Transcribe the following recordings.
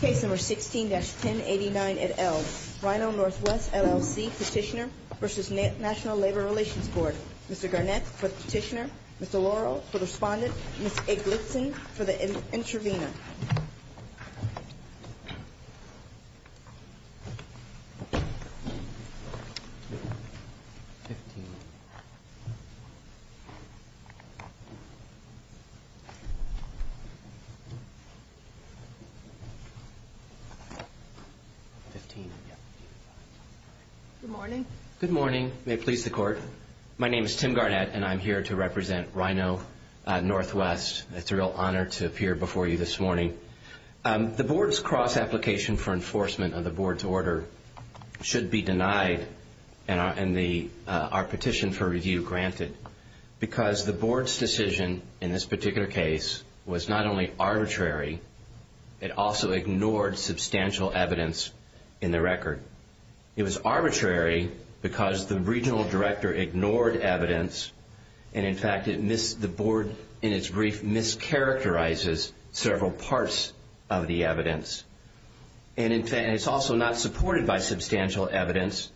Case No. 16-1089 at Elm, Rhino Northwest, LLC, Petitioner v. National Labor Relations Board Mr. Garnett for the petitioner, Mr. Laurel for the respondent, Ms. Eglitson for the intervener Good morning. May it please the court. My name is Tim Garnett and I'm here to represent Rhino Northwest. It's a real honor to appear before you this morning. The board's cross application for enforcement of the board's order should be denied and our petition for It also ignored substantial evidence in the record. It was arbitrary because the regional director ignored evidence and in fact the board in its brief mischaracterizes several parts of the evidence. It's also not supported by substantial evidence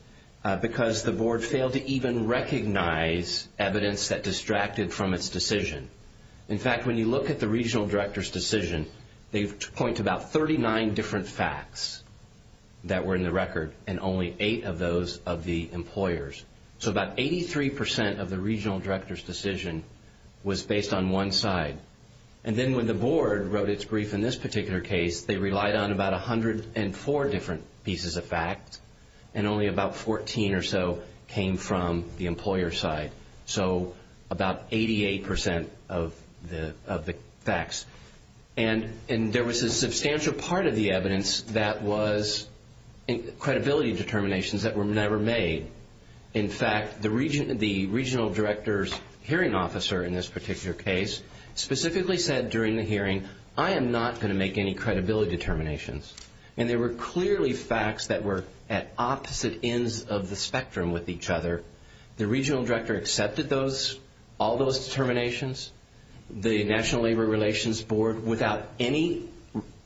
because the board failed to even recognize evidence that distracted from its decision. In fact, when you look at the regional director's decision, they point to about 39 different facts that were in the record and only eight of those of the employers. So about 83% of the regional director's decision was based on one side. And then when the board wrote its brief in this particular case, they relied on about 104 different pieces of fact and only about 14 or so came from the employer side. So about 88% of the facts. And there was a substantial part of the evidence that was credibility determinations that were never made. In fact, the regional director's hearing officer in this particular case specifically said during the hearing, I am not going to make any credibility determinations. And there were clearly facts that were at opposite ends of the spectrum with each other. The regional director accepted all those determinations. The National Labor Relations Board without any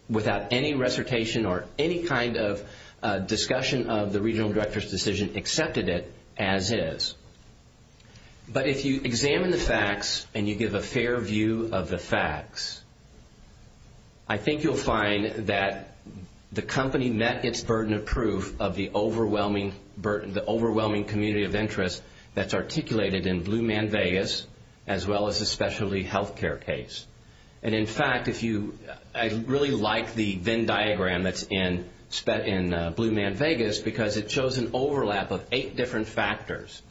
recitation or any kind of discussion of the regional director's decision accepted it as is. But if you examine the facts and you give a fair view of the facts, I think you'll find that the company met its burden of proof of the overwhelming community of interest that's articulated in Blue Man Vegas as well as the specialty healthcare case. And in fact, I really like the Venn diagram that's in Blue Man Vegas because it shows an overlap of eight different factors.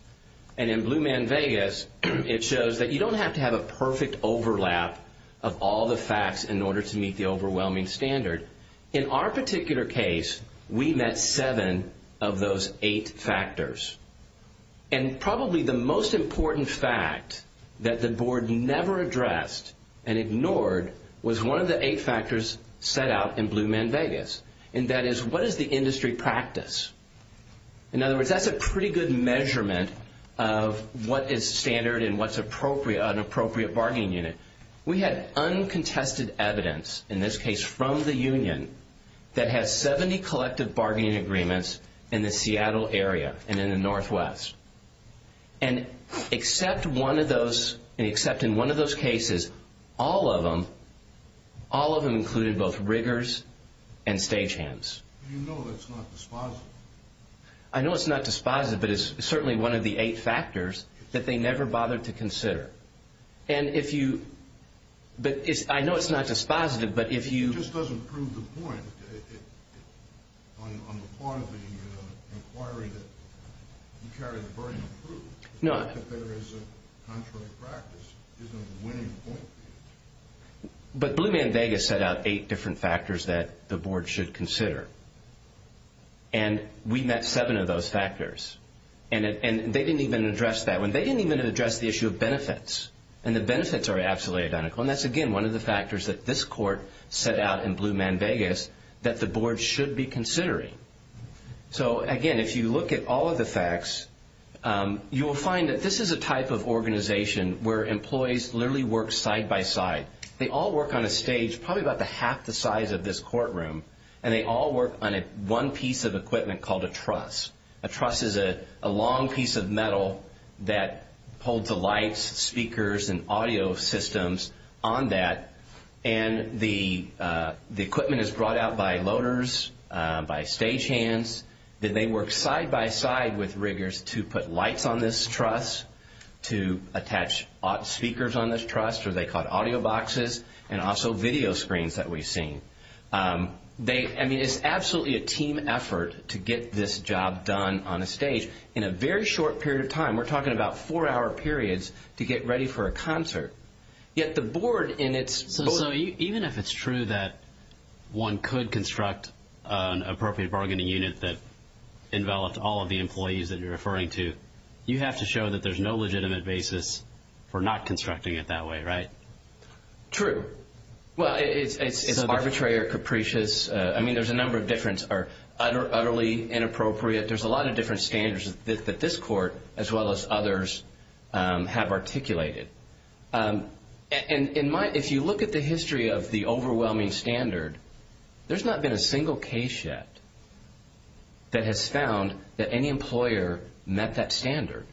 And in Blue Man Vegas, it shows that you don't have to have a perfect overlap of all the overwhelming standard. In our particular case, we met seven of those eight factors. And probably the most important fact that the board never addressed and ignored was one of the eight factors set out in Blue Man Vegas. And that is, what is the industry practice? In other words, that's a pretty good measurement of what is standard and what's an appropriate bargaining unit. We had uncontested evidence in this case from the union that has 70 collective bargaining agreements in the Seattle area and in the Northwest. And except in one of those cases, all of them included both riggers and stagehands. Do you know that's not dispositive? I know it's not dispositive, but it's certainly one of the eight factors that they never bothered to consider. And if you... I know it's not dispositive, but if you... It just doesn't prove the point on the part of the inquiry that you carry the burden of proof. No. That there is a contrary practice isn't a winning point. But Blue Man Vegas set out eight different factors that the board should consider. And we met seven of those factors. And they didn't even address that one. They didn't even address the issue of benefits. And the benefits are absolutely identical. And that's, again, one of the factors that this court set out in Blue Man Vegas that the board should be considering. So again, if you look at all of the facts, you will find that this is a type of organization where employees literally work side by side. They all work on a stage probably about half the size of this courtroom. And they all work on one piece of equipment called a truss. A truss is a long piece of metal that holds the lights, speakers, and audio systems on that. And the equipment is brought out by loaders, by stagehands. Then they work side by side with riggers to put lights on this truss, to attach speakers on this truss, or they call it audio boxes, and also video screens that we've seen. I mean, it's absolutely a team effort to get this job done on a stage in a very short period of time. We're talking about four-hour periods to get ready for a concert. Yet the board in its... So even if it's true that one could construct an appropriate bargaining unit that enveloped all of the employees that you're referring to, you have to show that there's no legitimate basis for not constructing it that way, right? True. Well, it's arbitrary or capricious. I mean, there's a number of differences that are utterly inappropriate. There's a lot of different standards that this court, as well as others, have articulated. And if you look at the history of the overwhelming standard, there's not been a single case yet that has found that any employer met that standard.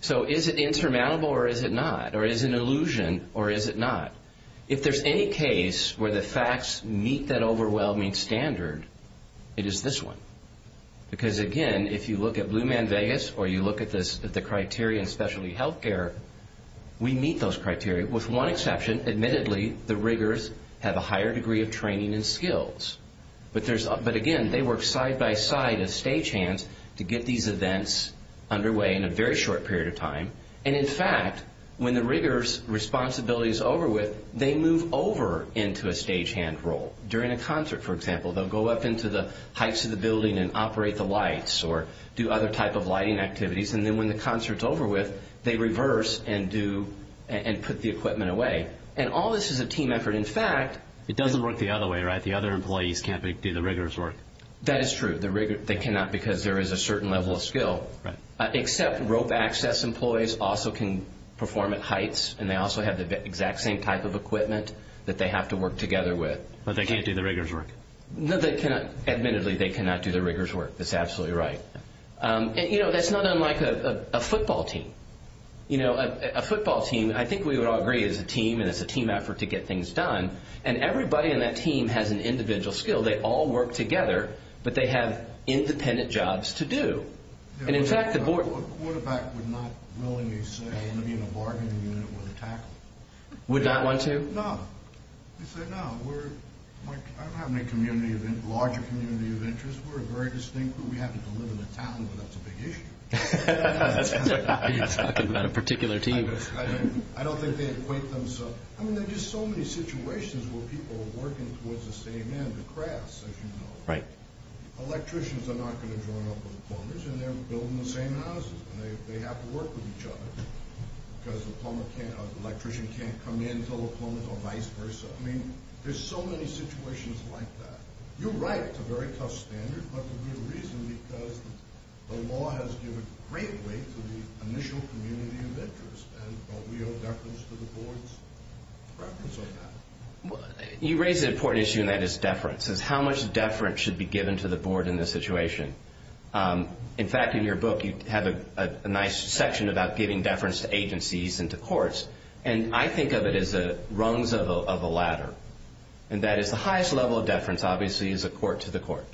So, is it insurmountable or is it not? Or is it an illusion or is it not? If there's any case where the facts meet that overwhelming standard, it is this one. Because again, if you look at Blue Man Vegas or you look at the criteria in specialty healthcare, we meet those criteria. With one exception, admittedly, the riggers have a higher degree of training and skills. But again, they work side-by-side as stagehands to get these events underway in a very short period of time. And in fact, when the rigger's responsibility is over with, they move over into a stagehand role. During a concert, for example, they'll go up into the heights of the building and operate the lights or do other type of lighting activities. And then when the concert's over with, they reverse and put the equipment away. And all of that doesn't work the other way, right? The other employees can't do the riggers' work. That is true. They cannot because there is a certain level of skill. Except rope access employees also can perform at heights and they also have the exact same type of equipment that they have to work together with. But they can't do the riggers' work. Admittedly, they cannot do the riggers' work. That's absolutely right. And that's not unlike a football team. A football team, I think we would all agree, is a team and it's a team effort to get things done. And everybody in that team has an individual skill. They all work together, but they have independent jobs to do. And in fact, the board... A quarterback would not willingly say, I want to be in a bargaining unit with a tackle. Would not want to? No. He'd say, no, we're... I don't have any larger community of interest. We're a very distinct group. We happen to live in a town where that's a big issue. You're talking about a particular team. I don't think they equate themselves... I mean, there are just so many situations where people are working towards the same end, the crafts, as you know. Electricians are not going to join up with plumbers and they're building the same houses. They have to work with each other because the electrician can't come in until the plumbers or vice versa. I mean, there's so many situations like that. You're right, it's a very tough standard, but the real reason because the law has given great weight to the initial community of interest. And don't we owe deference to the boards? You raise an important issue and that is deference. It's how much deference should be given to the board in this situation. In fact, in your book, you have a nice section about giving deference to agencies and to courts. And I think of it as the rungs of a ladder. And that is the highest level of deference, obviously, is a court to the court.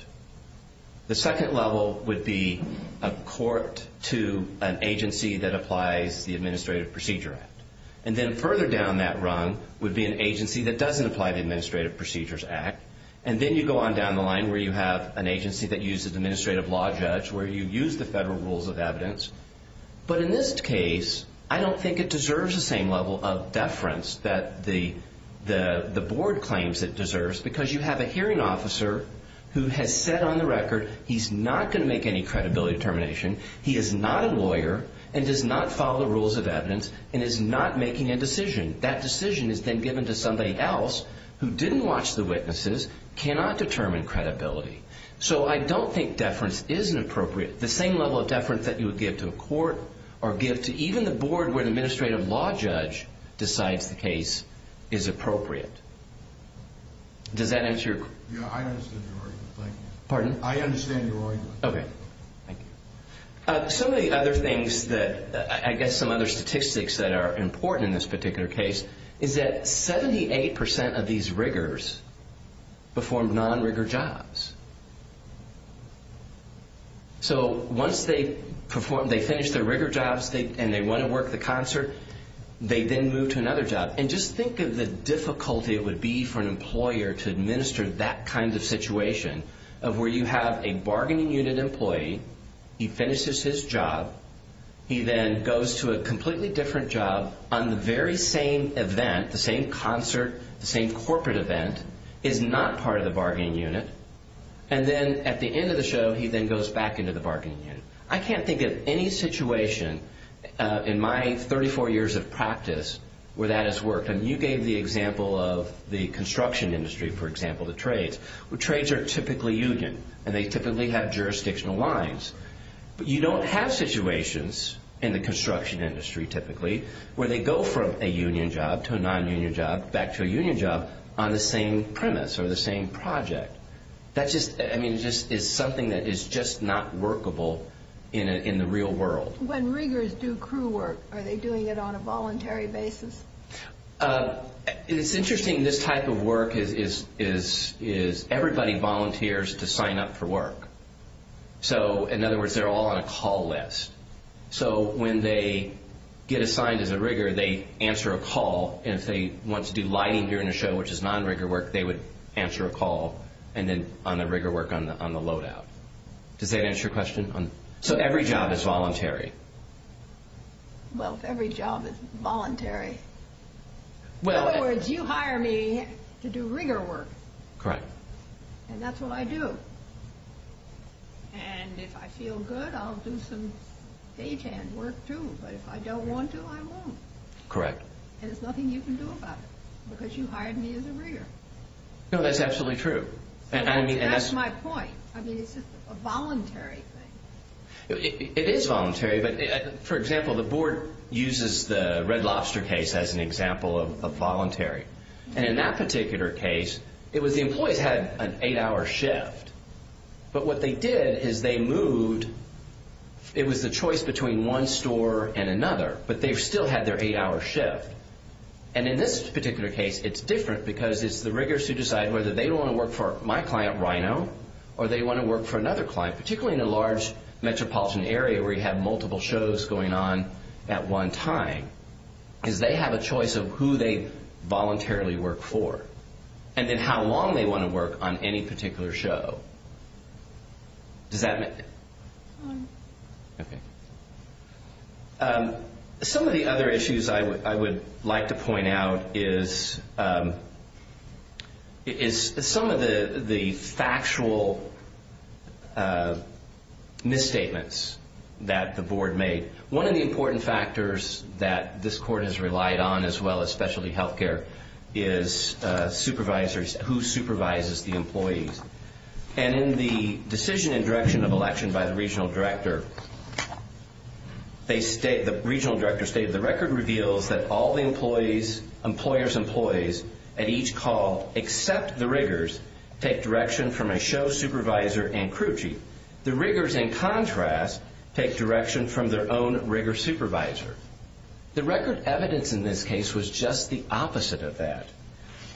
The second level would be a court to an agency that applies the Administrative Procedure Act. And then further down that rung would be an agency that doesn't apply the Administrative Procedures Act. And then you go on down the line where you have an agency that uses administrative law judge, where you use the federal rules of evidence. But in this case, I don't think it deserves the same level of deference that the board claims it deserves because you have a hearing officer who has said on the record he's not going to make any credibility determination. He is not a lawyer and does not follow the rules of evidence and is not making a decision. That decision is then given to somebody else who didn't watch the witnesses, cannot determine credibility. So I don't think deference is appropriate. The same level of deference that you would give to a court or give to even the board where the administrative law judge decides the case is appropriate. Does that answer your question? Yeah, I understand your argument. Thank you. Pardon? I understand your argument. Okay. Thank you. Some of the other things that I guess some other statistics that are important in this particular case is that 78% of these riggers performed non-rigger jobs. So once they perform, they finish their rigger jobs and they want to work the concert, they then move to another job. And just think of the difficulty it would be for an employer to administer that kind of situation of where you have a bargaining unit employee, he finishes his job, he then goes to a completely different job on the very same event, the same concert, the same corporate event, is not part of the bargaining unit. And then at the end of the show, he then goes back into the bargaining unit. I can't think of any situation in my 34 years of practice where that has worked. I mean, you gave the example of the construction industry, for example, the trades, where trades are typically union and they typically have jurisdictional lines. But you don't have situations in the construction industry typically where they go from a union job to a non-union job back to a union job on the same premise or the same project. That's just, I mean, it's something that is just not workable in the real world. When riggers do crew work, are they doing it on a voluntary basis? It's interesting, this type of work is everybody volunteers to sign up for work. So in other words, you hire me to do rigger work. And that's what I do. And if I feel good, I'll do some And there's nothing you can do about it because you hired me as a rigger. No, that's absolutely true. That's my point. I mean, it's just a voluntary thing. It is voluntary, but for example, the board uses the Red Lobster case as an example of voluntary. And in that particular case, it was the employees had an eight-hour shift. But what they did is they moved, it was the choice between one store and another, but they've still had their eight-hour shift. And in this particular case, it's different because it's the riggers who decide whether they want to work for my client, Rhino, or they want to work for another client, particularly in a large metropolitan area where you have multiple shows going on at one time, because they have a choice of who they voluntarily work for and then how long they want to work on any particular show. Does that make... Some of the other issues I would like to point out is some of the factual misstatements that the board made. One of the important factors that this court has relied on as well as specialty healthcare is supervisors, who supervises the employees. And in the decision and direction of election by the regional director, they state, the regional director stated, the record reveals that all the employees, employers' employees, at each call except the riggers, take direction from a show supervisor and crew chief. The riggers, in contrast, take direction from their own rigger supervisor. The record evidence in this case was just the opposite of that.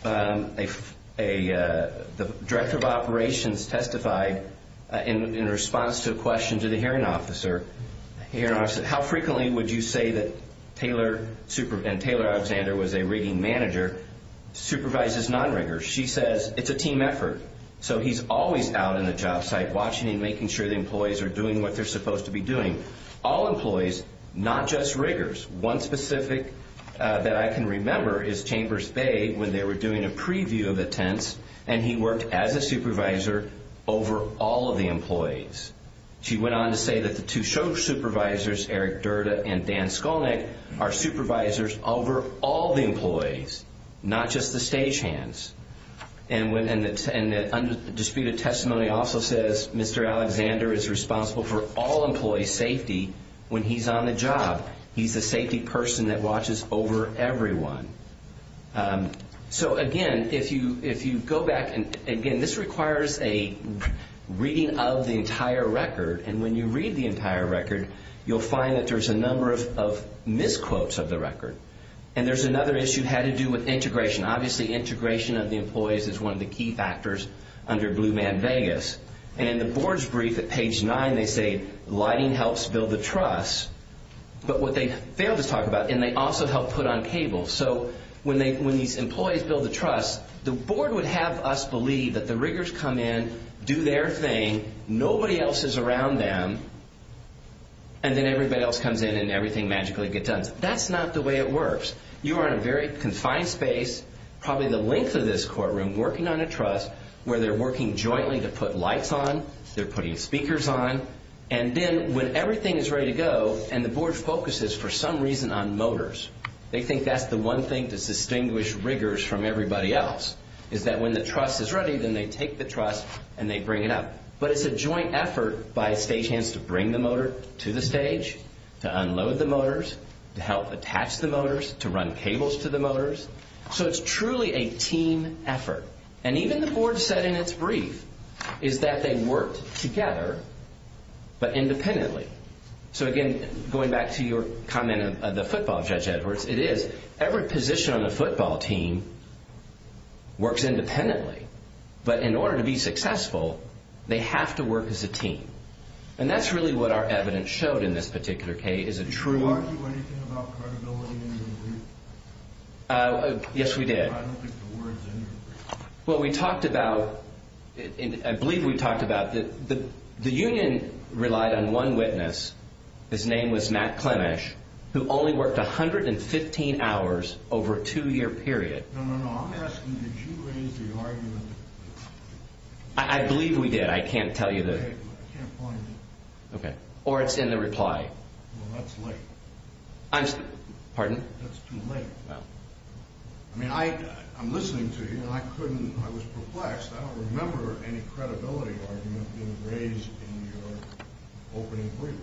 The director of operations testified in response to a question to the hearing officer. How frequently would you say that Taylor, and Taylor Alexander was a rigging manager, supervises non-riggers? She says, it's a team effort. So he's always out in the job site, watching and making sure the employees are doing what they're supposed to be doing. All employees, not just riggers. One specific that I can remember is Chambers Bay, when they were doing a preview of the tents, and he worked as a supervisor over all of the employees. She went on to say that the two show supervisors, Eric Durda and Dan Skolnick, are supervisors over all the employees, not just the stagehands. And the disputed testimony also says Mr. Alexander is responsible for all employees' safety when he's on the job. He's the safety person that watches over everyone. So again, if you go back, and again, this requires a reading of the entire record. And when you read the entire record, you'll find that there's a number of misquotes of the record. And there's another issue had to do with integration. Obviously, integration of the employees is one of the key factors under Blue Man Vegas. And in the board's brief at page nine, they say lighting helps build the trust. But what they failed to talk about, and they also helped put on cable. So when these employees build the trust, the board would have us believe that the riggers come in, do their thing, nobody else is around them, and then everybody else comes in and everything magically gets done. That's not the way it works. You are in a very confined space, probably the length of this courtroom, working on a trust where they're working jointly to put lights on, they're putting speakers on, and then when everything is ready to go and the board focuses, for some reason, on motors, they think that's the one thing to distinguish riggers from everybody else, is that when the trust is ready, then they take the trust and they bring it up. But it's a joint effort by stagehands to bring the motor to the stage, to unload the motors, to help attach the motors, to run cables to the motors. So it's truly a team effort. And even the board said in its brief is that they worked together, but independently. So again, going back to your comment of the football, Judge Edwards, it is. Every position on the football team works independently. But in order to be successful, they have to work as a team. And that's really what our evidence showed in this particular case, is a true... Did you argue anything about credibility in your brief? Yes, we did. I don't think the word's in there. Well, we talked about, I believe we talked about, the union relied on one witness. His name was Matt Clemesch, who only worked 115 hours over a two-year period. No, no, no. I'm asking, did you raise the argument? I believe we did. I can't tell you the... I can't find it. Okay. Or it's in the reply. Well, that's late. I'm... Pardon? That's too late. Well... I mean, I'm listening to you. I couldn't... I was perplexed. I don't remember any credibility argument being raised in your opening brief.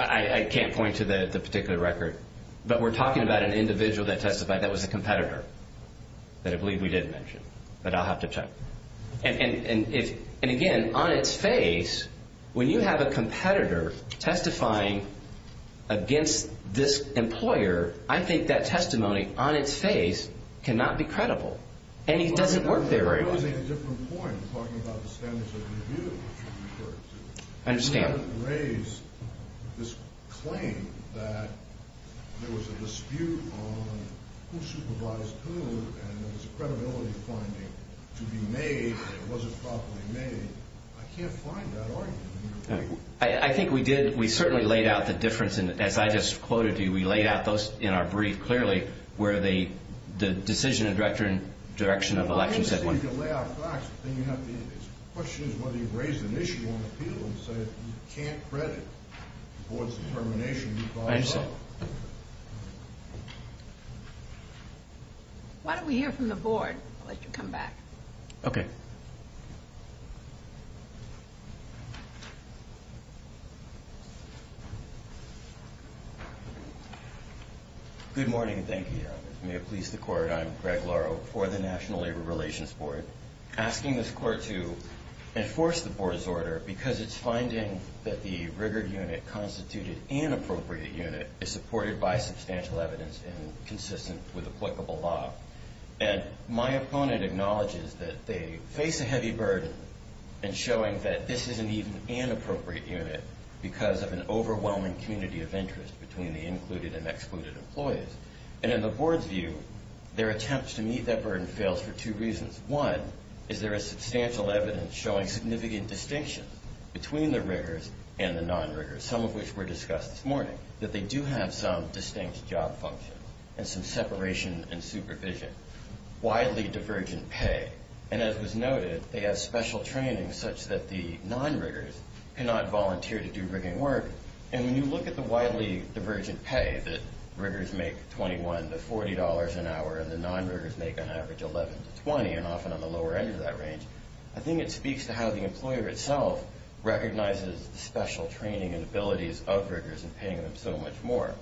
I can't point to the particular record. But we're talking about an individual that testified that was a competitor that I believe we did mention. But I'll have to check. And again, on its face, when you have a competitor testifying against this employer, I think that testimony on its face cannot be credible. And it doesn't work very well. You're raising a different point. You're talking about the standards of review, which you referred to. I understand. You didn't raise this claim that there was a dispute on who supervised who, and there was a credibility finding to be made that it wasn't properly made. I can't find that argument in your... I think we did. We certainly laid out the difference. And as I just quoted to you, we laid out those in our brief, clearly, where the decision and direction of election said... The question is whether you've raised an issue on appeal and said you can't credit the board's determination. I understand. Why don't we hear from the board? I'll let you come back. Okay. Good morning. Thank you. May it please the court, I'm Greg Lauro for the National Labor Relations Board. Asking this court to enforce the board's order because it's finding that the rigor unit constituted inappropriate unit is supported by substantial evidence and consistent with applicable law. And my opponent acknowledges that they face a heavy burden in showing that this is an even inappropriate unit because of an overwhelming community of interest between the included and excluded employees. And in the board's view, their attempts to meet that burden fails for two reasons. One, is there is substantial evidence showing significant distinction between the rigors and the non-rigors, some of which were discussed this morning, that they do have some distinct job function and some separation and supervision. Widely divergent pay, and as was noted, they have special training such that the non-rigors cannot volunteer to do rigging work. And when you look at the widely divergent pay that rigors make $21 to $40 an hour and the non-rigors make on average $11 to $20, and often on the lower end of that range, I think it speaks to how the employer itself recognizes the training and abilities of rigors and paying them so much more.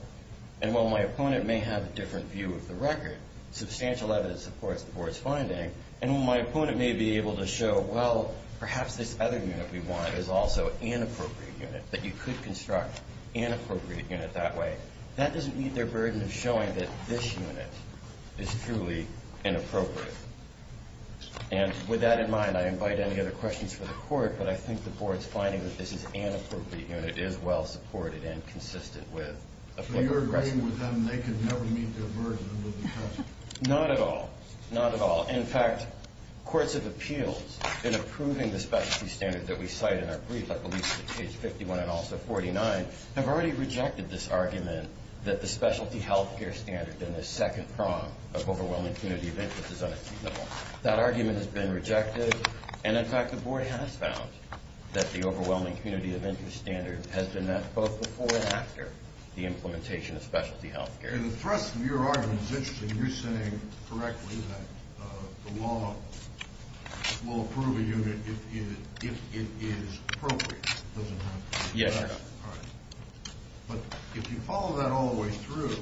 And while my opponent may have a different view of the record, substantial evidence supports the board's finding. And while my opponent may be able to show, well, perhaps this other unit we want is also an inappropriate unit, that you could construct an inappropriate unit that way, that doesn't meet their burden of showing that this unit is truly inappropriate. And with that in mind, I invite any other questions for the court, but I think the board's finding that this is an inappropriate unit. It is well-supported and consistent with a point of precedent. So you're agreeing with them they can never meet their burden of the discussion? Not at all. Not at all. In fact, courts of appeals, in approving the specialty standard that we cite in our brief, I believe it's page 51 and also 49, have already rejected this argument that the specialty health care standard in the second prong of overwhelming community of interest is unachievable. That argument has been rejected, and in fact the board has found that the overwhelming community of interest standard has been met both before and after the implementation of specialty health care. And the thrust of your argument is interesting. You're saying correctly that the law will approve a unit if it is appropriate. It doesn't have to be perfect. Yes, Your Honor. But if you follow that all the way through,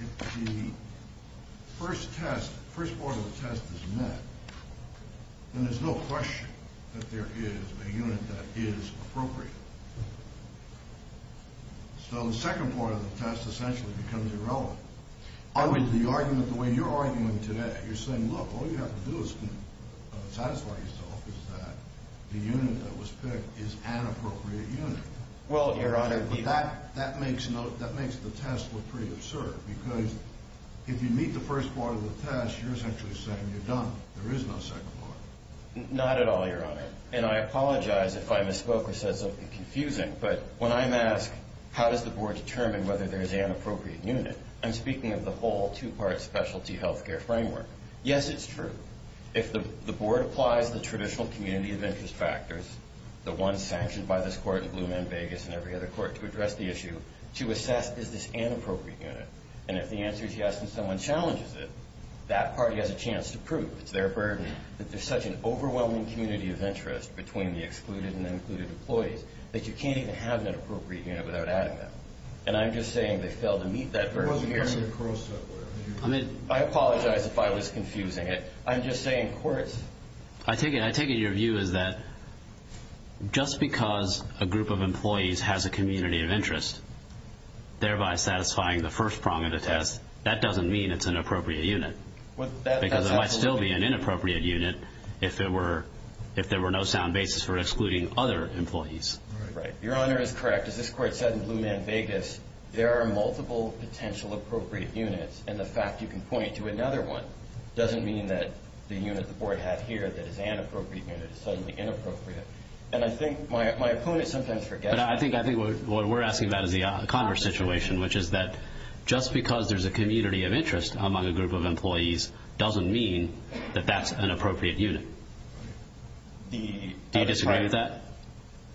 if the first test, the first part of the test is met, then there's no question that there is a unit that is appropriate. So the second part of the test essentially becomes irrelevant. Otherwise, the argument, the way you're arguing today, you're saying, look, all you have to do Well, Your Honor, that makes the test look pretty absurd, because if you meet the first part of the test, you're essentially saying you're done. There is no second part. Not at all, Your Honor. And I apologize if I misspoke or said something confusing, but when I'm asked how does the board determine whether there is an appropriate unit, I'm speaking of the whole two-part specialty health care framework. Yes, it's true. If the board applies the traditional community of interest factors, the ones sanctioned by this court and Blue Man Vegas and every other court to address the issue, to assess is this an appropriate unit. And if the answer is yes and someone challenges it, that party has a chance to prove it's their burden that there's such an overwhelming community of interest between the excluded and the included employees that you can't even have an appropriate unit without adding them. And I'm just saying they failed to meet that burden here. It wasn't even a cross-cut. I apologize if I was confusing it. I'm just saying courts I take it your view is that just because a group of employees has a community of interest thereby satisfying the first prong of the test, that doesn't mean it's an appropriate unit. Because it might still be an inappropriate unit if there were no sound basis for excluding other employees. Your Honor is correct. As this court said in Blue Man Vegas, there are multiple potential appropriate units and the fact you can point to another one doesn't mean that the unit that the board had here that is an appropriate unit is suddenly inappropriate. And I think my opponent sometimes forgets. But I think what we're asking about is the Congress situation, which is that just because there's a community of interest among a group of employees doesn't mean that that's an appropriate unit. Do you disagree with that?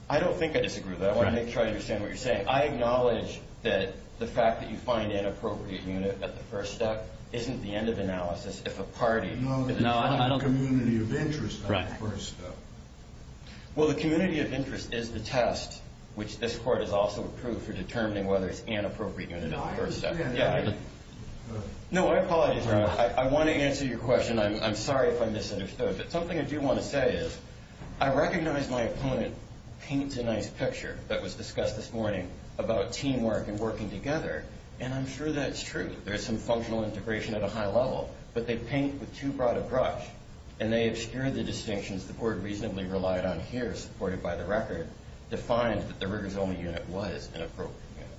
I don't think I disagree with that. I want to make sure I understand what you're saying. I acknowledge that the fact that you find an inappropriate unit at the first step isn't the end of analysis if a party No, it's not a community of interest at the first step. Well, the community of interest is the test, which this court has also approved for determining whether it's an appropriate unit at the first step. No, I understand that. No, I apologize. I want to answer your question. I'm sorry if I misunderstood. But something I do want to say is, I recognize my opponent paints a nice picture that was discussed this morning about teamwork and working together, and I'm sure that's true. There's some functional integration at a high level, but they paint with too broad a brush, and they obscure the distinctions the board reasonably relied on here, supported by the record, defined that the rigors-only unit was an appropriate unit.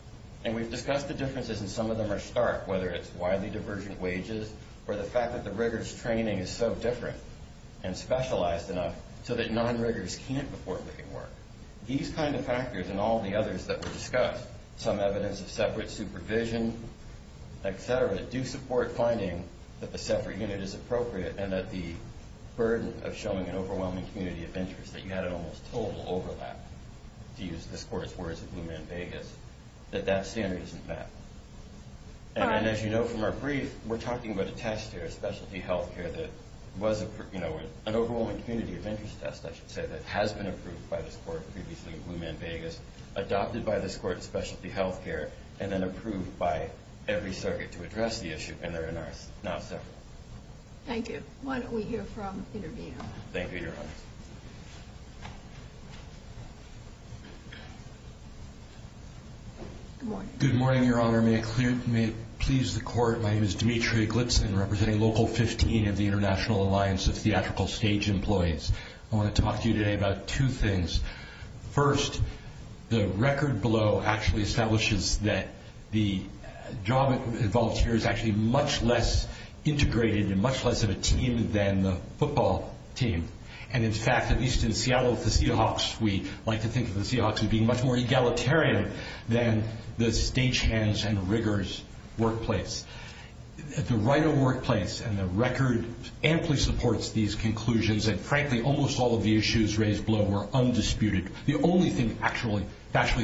And we've discussed the differences, and some of them are stark, whether it's widely divergent wages or the fact that the rigors training is so different and specialized enough so that non-rigors can't afford leaving work. These kind of factors and all the others that were discussed, some evidence of separate supervision, et cetera, do support finding that the separate unit is appropriate and that the burden of showing an overwhelming community of interest, that you had an almost total overlap, to use this court's words at Blue Man Vegas, that that standard isn't met. And as you know from our brief, we're talking about a test here, a specialty health care that was an overwhelming community of interest test, I should say, that has been approved by this court previously at Blue Man Vegas, adopted by this court as specialty health care, and then approved by every circuit to address the issue, and they're in ours now. Thank you. Why don't we hear from the interviewer? Thank you, Your Honor. Good morning, Your Honor. May it please the court, my name is Dimitri Glipson, representing Local 15 of the International Alliance of Theatrical Stage Employees. I want to talk to you today about two things. First, the record below actually establishes that the job involved here is actually much less integrated and much less of a team than the football team. And in fact, at least in Seattle with the Seahawks, we like to think of the Seahawks as being much more egalitarian than the stagehands and riggers workplace. At the right of workplace, and the record amply supports these conclusions, and frankly almost all of the issues raised below were undisputed. The only thing actually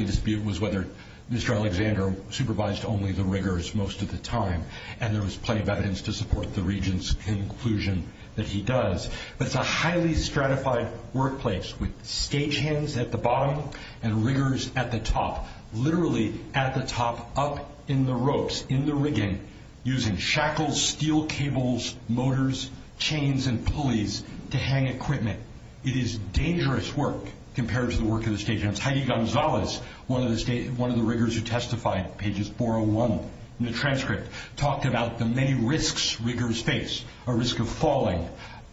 disputed was whether Mr. Alexander supervised only the riggers most of the time, and there was plenty of evidence to support the regent's conclusion that he does. But it's a highly stratified workplace with stagehands at the bottom and riggers at the top, literally at the top, up in the ropes, in the rigging, using shackles, steel cables, motors, chains, and pulleys to hang equipment. It is dangerous work compared to the work of the stagehands. Heidi Gonzalez, one of the riggers who testified, pages 401 in the transcript, talked about the many risks riggers face, a risk of falling,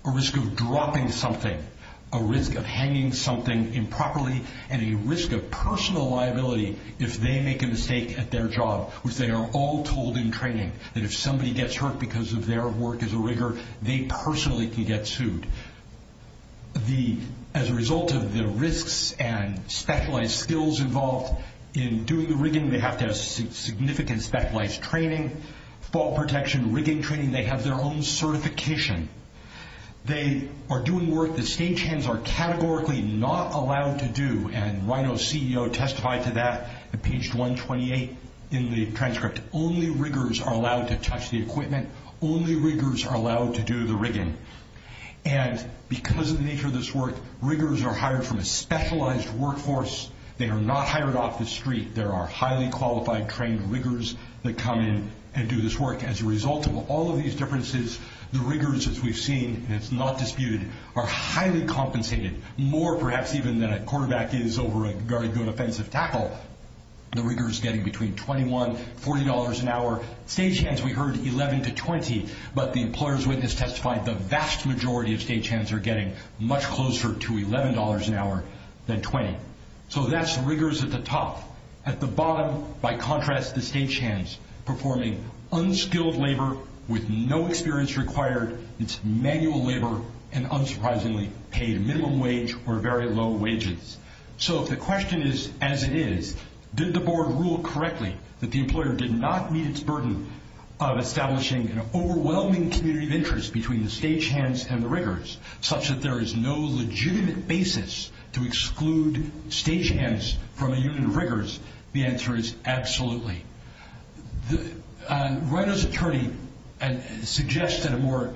a risk of dropping something, a risk of hanging something improperly, and a risk of personal liability if they make a mistake at their job, which they are all told in training that if somebody gets hurt because of their work as a rigger, they personally can get sued. As a result of the risks and specialized skills involved in doing the rigging, they have to have significant specialized training, fall protection, rigging training, they have their own certification. They are doing work that stagehands are categorically not allowed to do, and Rhino's CEO testified to that at page 128 in the transcript. Only riggers are allowed to touch the equipment. Only riggers are allowed to do the rigging. And because of the nature of this work, riggers are hired from a specialized workforce. They are not hired off the street. There are highly qualified, trained riggers that come in and do this work. As a result of all of these differences, the riggers, as we've seen, and it's not disputed, are highly compensated, more perhaps even than a quarterback is over a very good offensive tackle. The riggers getting between $21, $40 an hour. Stagehands, we heard $11 to $20, but the employer's witness testified the vast majority of stagehands are getting much closer to $11 an hour than $20. So that's riggers at the top. At the bottom, by contrast, the stagehands performing unskilled labor with no experience required. It's manual labor and unsurprisingly paid minimum wage or very low wages. So if the question is, as it is, did the board rule correctly that the employer did not meet its burden of establishing an overwhelming community of interest between the stagehands and the riggers, such that there is no legitimate basis to exclude stagehands from a union of riggers, the answer is absolutely. Reiner's attorney suggests at a more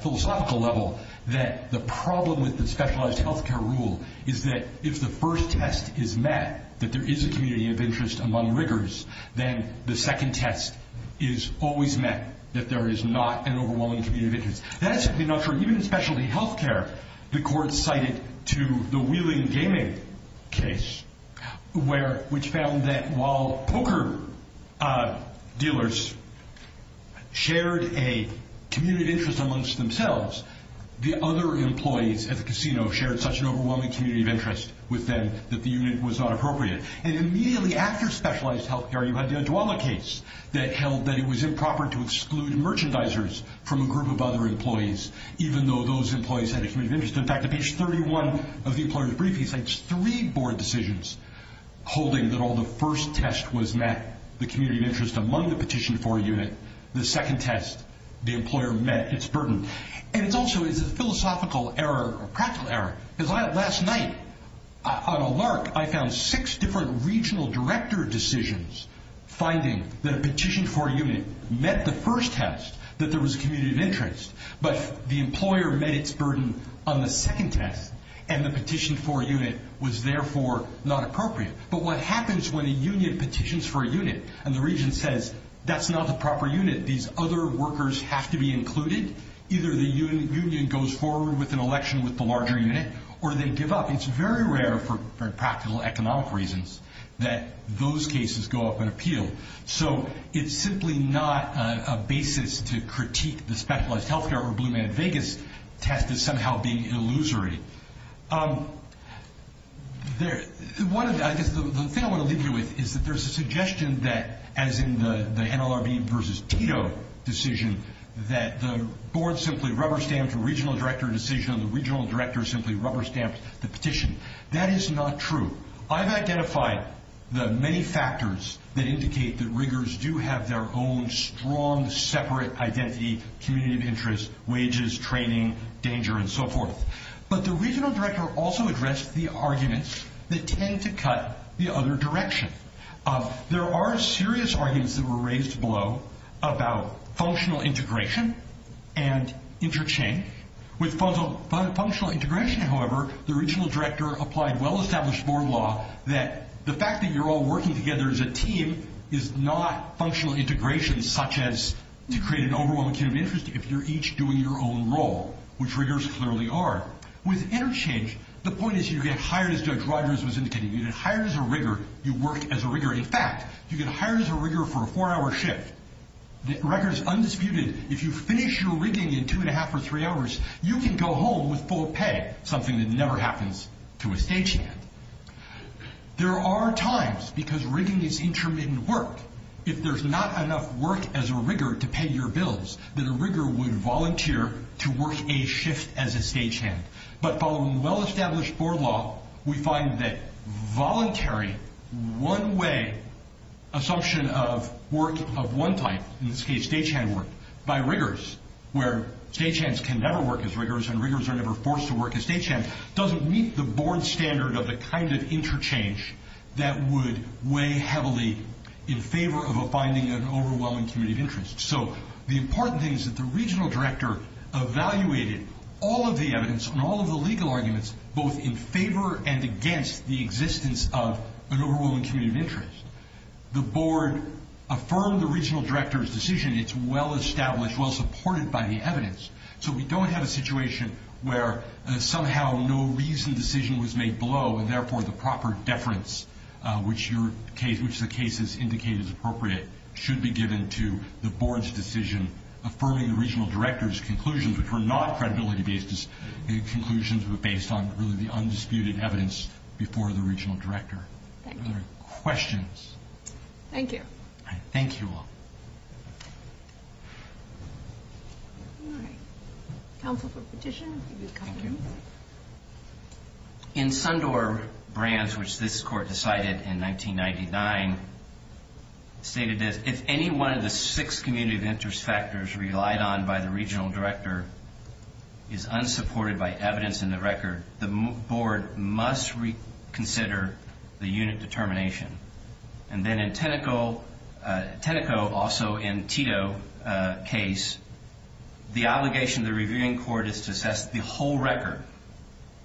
philosophical level that the problem with the specialized health care rule is that if the first test is met, that there is a community of interest among riggers, then the second test is always met, that there is not an overwhelming community of interest. That is simply not true. Even in specialty health care, the court cited to the Wheeling Gaming case, which found that while poker dealers shared a community of interest amongst themselves, the other employees at the casino shared such an overwhelming community of interest with them that the unit was not appropriate. And immediately after specialized health care, you had the Adwala case that held that it was improper to exclude merchandisers from a group of other employees, even though those employees had a community of interest. In fact, on page 31 of the employer's brief, he cites three board decisions holding that all the first test was met, the community of interest among the petitioned for unit, the second test, the employer met its burden. And it's also a philosophical error, a practical error, because last night on a LARC, I found six different regional director decisions finding that a petitioned for unit met the first test, that there was a community of interest on the second test, and the petitioned for unit was therefore not appropriate. But what happens when a union petitions for a unit, and the region says, that's not the proper unit, these other workers have to be included, either the union goes forward with an election with the larger unit, or they give up. It's very rare for practical economic reasons that those cases go up in appeal. So it's simply not a basis to critique the illusory. The thing I want to leave you with is that there's a suggestion that, as in the NLRB versus Tito decision, that the board simply rubber-stamped a regional director decision, and the regional director simply rubber-stamped the petition. That is not true. I've identified the many factors that indicate that riggers do have their own strong, separate identity, community of interest, wages, training, danger, and so forth. But the regional director also addressed the arguments that tend to cut the other direction. There are serious arguments that were raised below about functional integration and interchange. With functional integration, however, the regional director applied well-established board law that the fact that you're all working together as a team is not functional integration, such as to create an overwhelming community of interest if you're each doing your own role, which riggers clearly are. With interchange, the point is you get hired, as Judge Rogers was indicating. You get hired as a rigger. You work as a rigger. In fact, you get hired as a rigger for a four-hour shift. The record is undisputed. If you finish your rigging in two and a half or three hours, you can go home with full pay, something that never happens to a statesman. There are times, because rigging is intermittent work, if there's not enough work as a rigger to pay your bills, then a rigger would volunteer to work a shift as a stagehand. But following well-established board law, we find that voluntary, one-way assumption of work of one type, in this case stagehand work, by riggers, where stagehands can never work as riggers and riggers are never forced to work as stagehands, doesn't meet the board standard of the kind of interchange that would weigh heavily in favor of a finding of an overwhelming community of interest. So the important thing is that the regional director evaluated all of the evidence and all of the legal arguments both in favor and against the existence of an overwhelming community of interest. The board affirmed the regional director's decision. It's well-established, well-supported by the evidence. So we don't have a situation where somehow no reasoned decision was made below and therefore the cases indicated as appropriate should be given to the board's decision affirming the regional director's conclusions, which were not credibility-based conclusions but based on really the undisputed evidence before the regional director. Thank you. Are there any questions? Thank you. All right. Thank you all. All right. Counsel for petition. Thank you. In Sundor Brands, which this court decided in 1999, stated that if any one of the six community of interest factors relied on by the regional director is unsupported by evidence in the record, the board must reconsider the unit determination. And then in Tenneco, also in Tito case, the obligation of the reviewing court is to assess the whole record,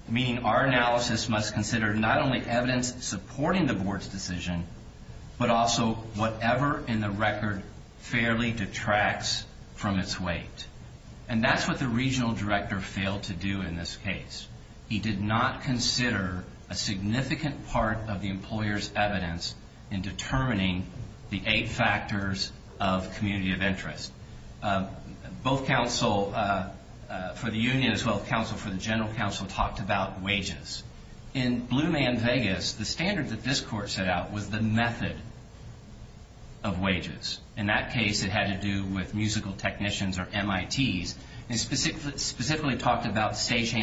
meaning our analysis must consider not only evidence supporting the board's decision but also whatever in the record fairly detracts from its weight. And that's what the regional director failed to do in this case. He did not consider a significant part of the employer's evidence in determining the eight factors of community of interest. Both counsel for the union as well as counsel for the general counsel talked about wages. In Blue Man Vegas, the standard that this court set out was the method of wages. In that case, it had to do with musical technicians or MITs. It specifically talked about stage So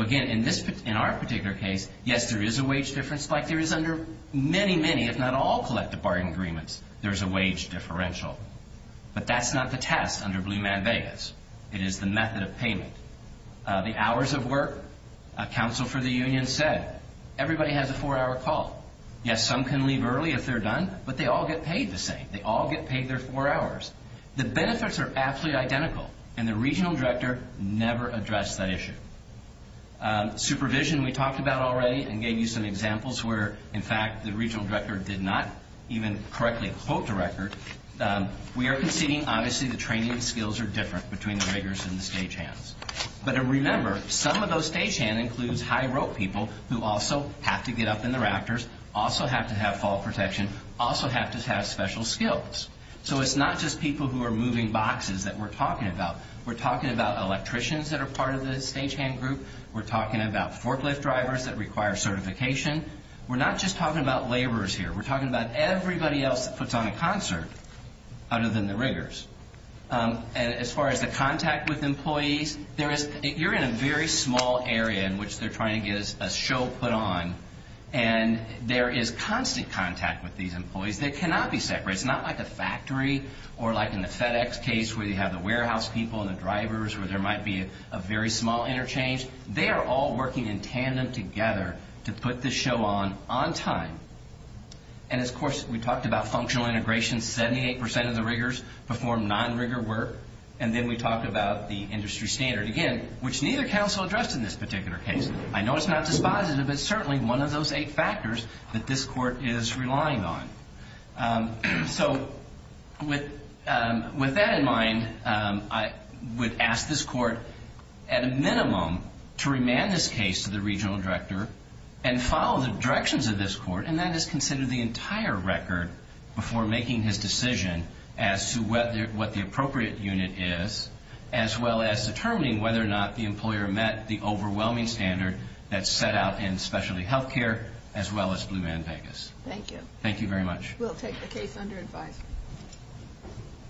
again, in our particular case, yes, there is a wage difference, like there is under many, many, if not all collective bargaining agreements, there is a wage differential. But that's not the test under Blue Man Vegas. It is the method of payment. The hours of work, counsel for the union said, everybody has a four-hour call. Yes, some can leave early if they're done, but they all get paid the same. They all get paid their four hours. The benefits are absolutely identical, and the regional director never addressed that issue. Supervision, we talked about already and gave you some examples where, in fact, the regional director did not even correctly quote the record. We are conceding, obviously, the training skills are different between the riggers and the stagehands. But remember, some of those stagehands include high-row people who also have to get up in the rafters, also have to have fall protection, also have to have special skills. So it's not just people who are moving boxes that we're talking about. We're talking about electricians that are part of the stagehand group. We're talking about forklift drivers that require certification. We're not just talking about laborers here. We're talking about everybody else that puts on a concert other than the riggers. As far as the contact with employees, you're in a very small area in which they're trying to get a show put on, and there is constant contact with these employees that cannot be separate. It's not like a factory or like in the FedEx case where you have the warehouse people and the drivers where there might be a very small interchange. They are all working in tandem together to put the show on on time. And, of course, we talked about functional integration. Seventy-eight percent of the riggers perform non-rigger work. And then we talked about the industry standard, again, which neither counsel addressed in this particular case. I know it's not dispositive, but certainly one of those eight factors that this court is relying on. So with that in mind, I would ask this court at a minimum to remand this case to the regional director and follow the directions of this court, and that is consider the entire record before making his decision as to what the appropriate unit is, as well as determining whether or not the employer met the overwhelming standard that's set out in specialty health care, as well as Blue Man Vegas. Thank you. Thank you very much. We'll take the case under advice.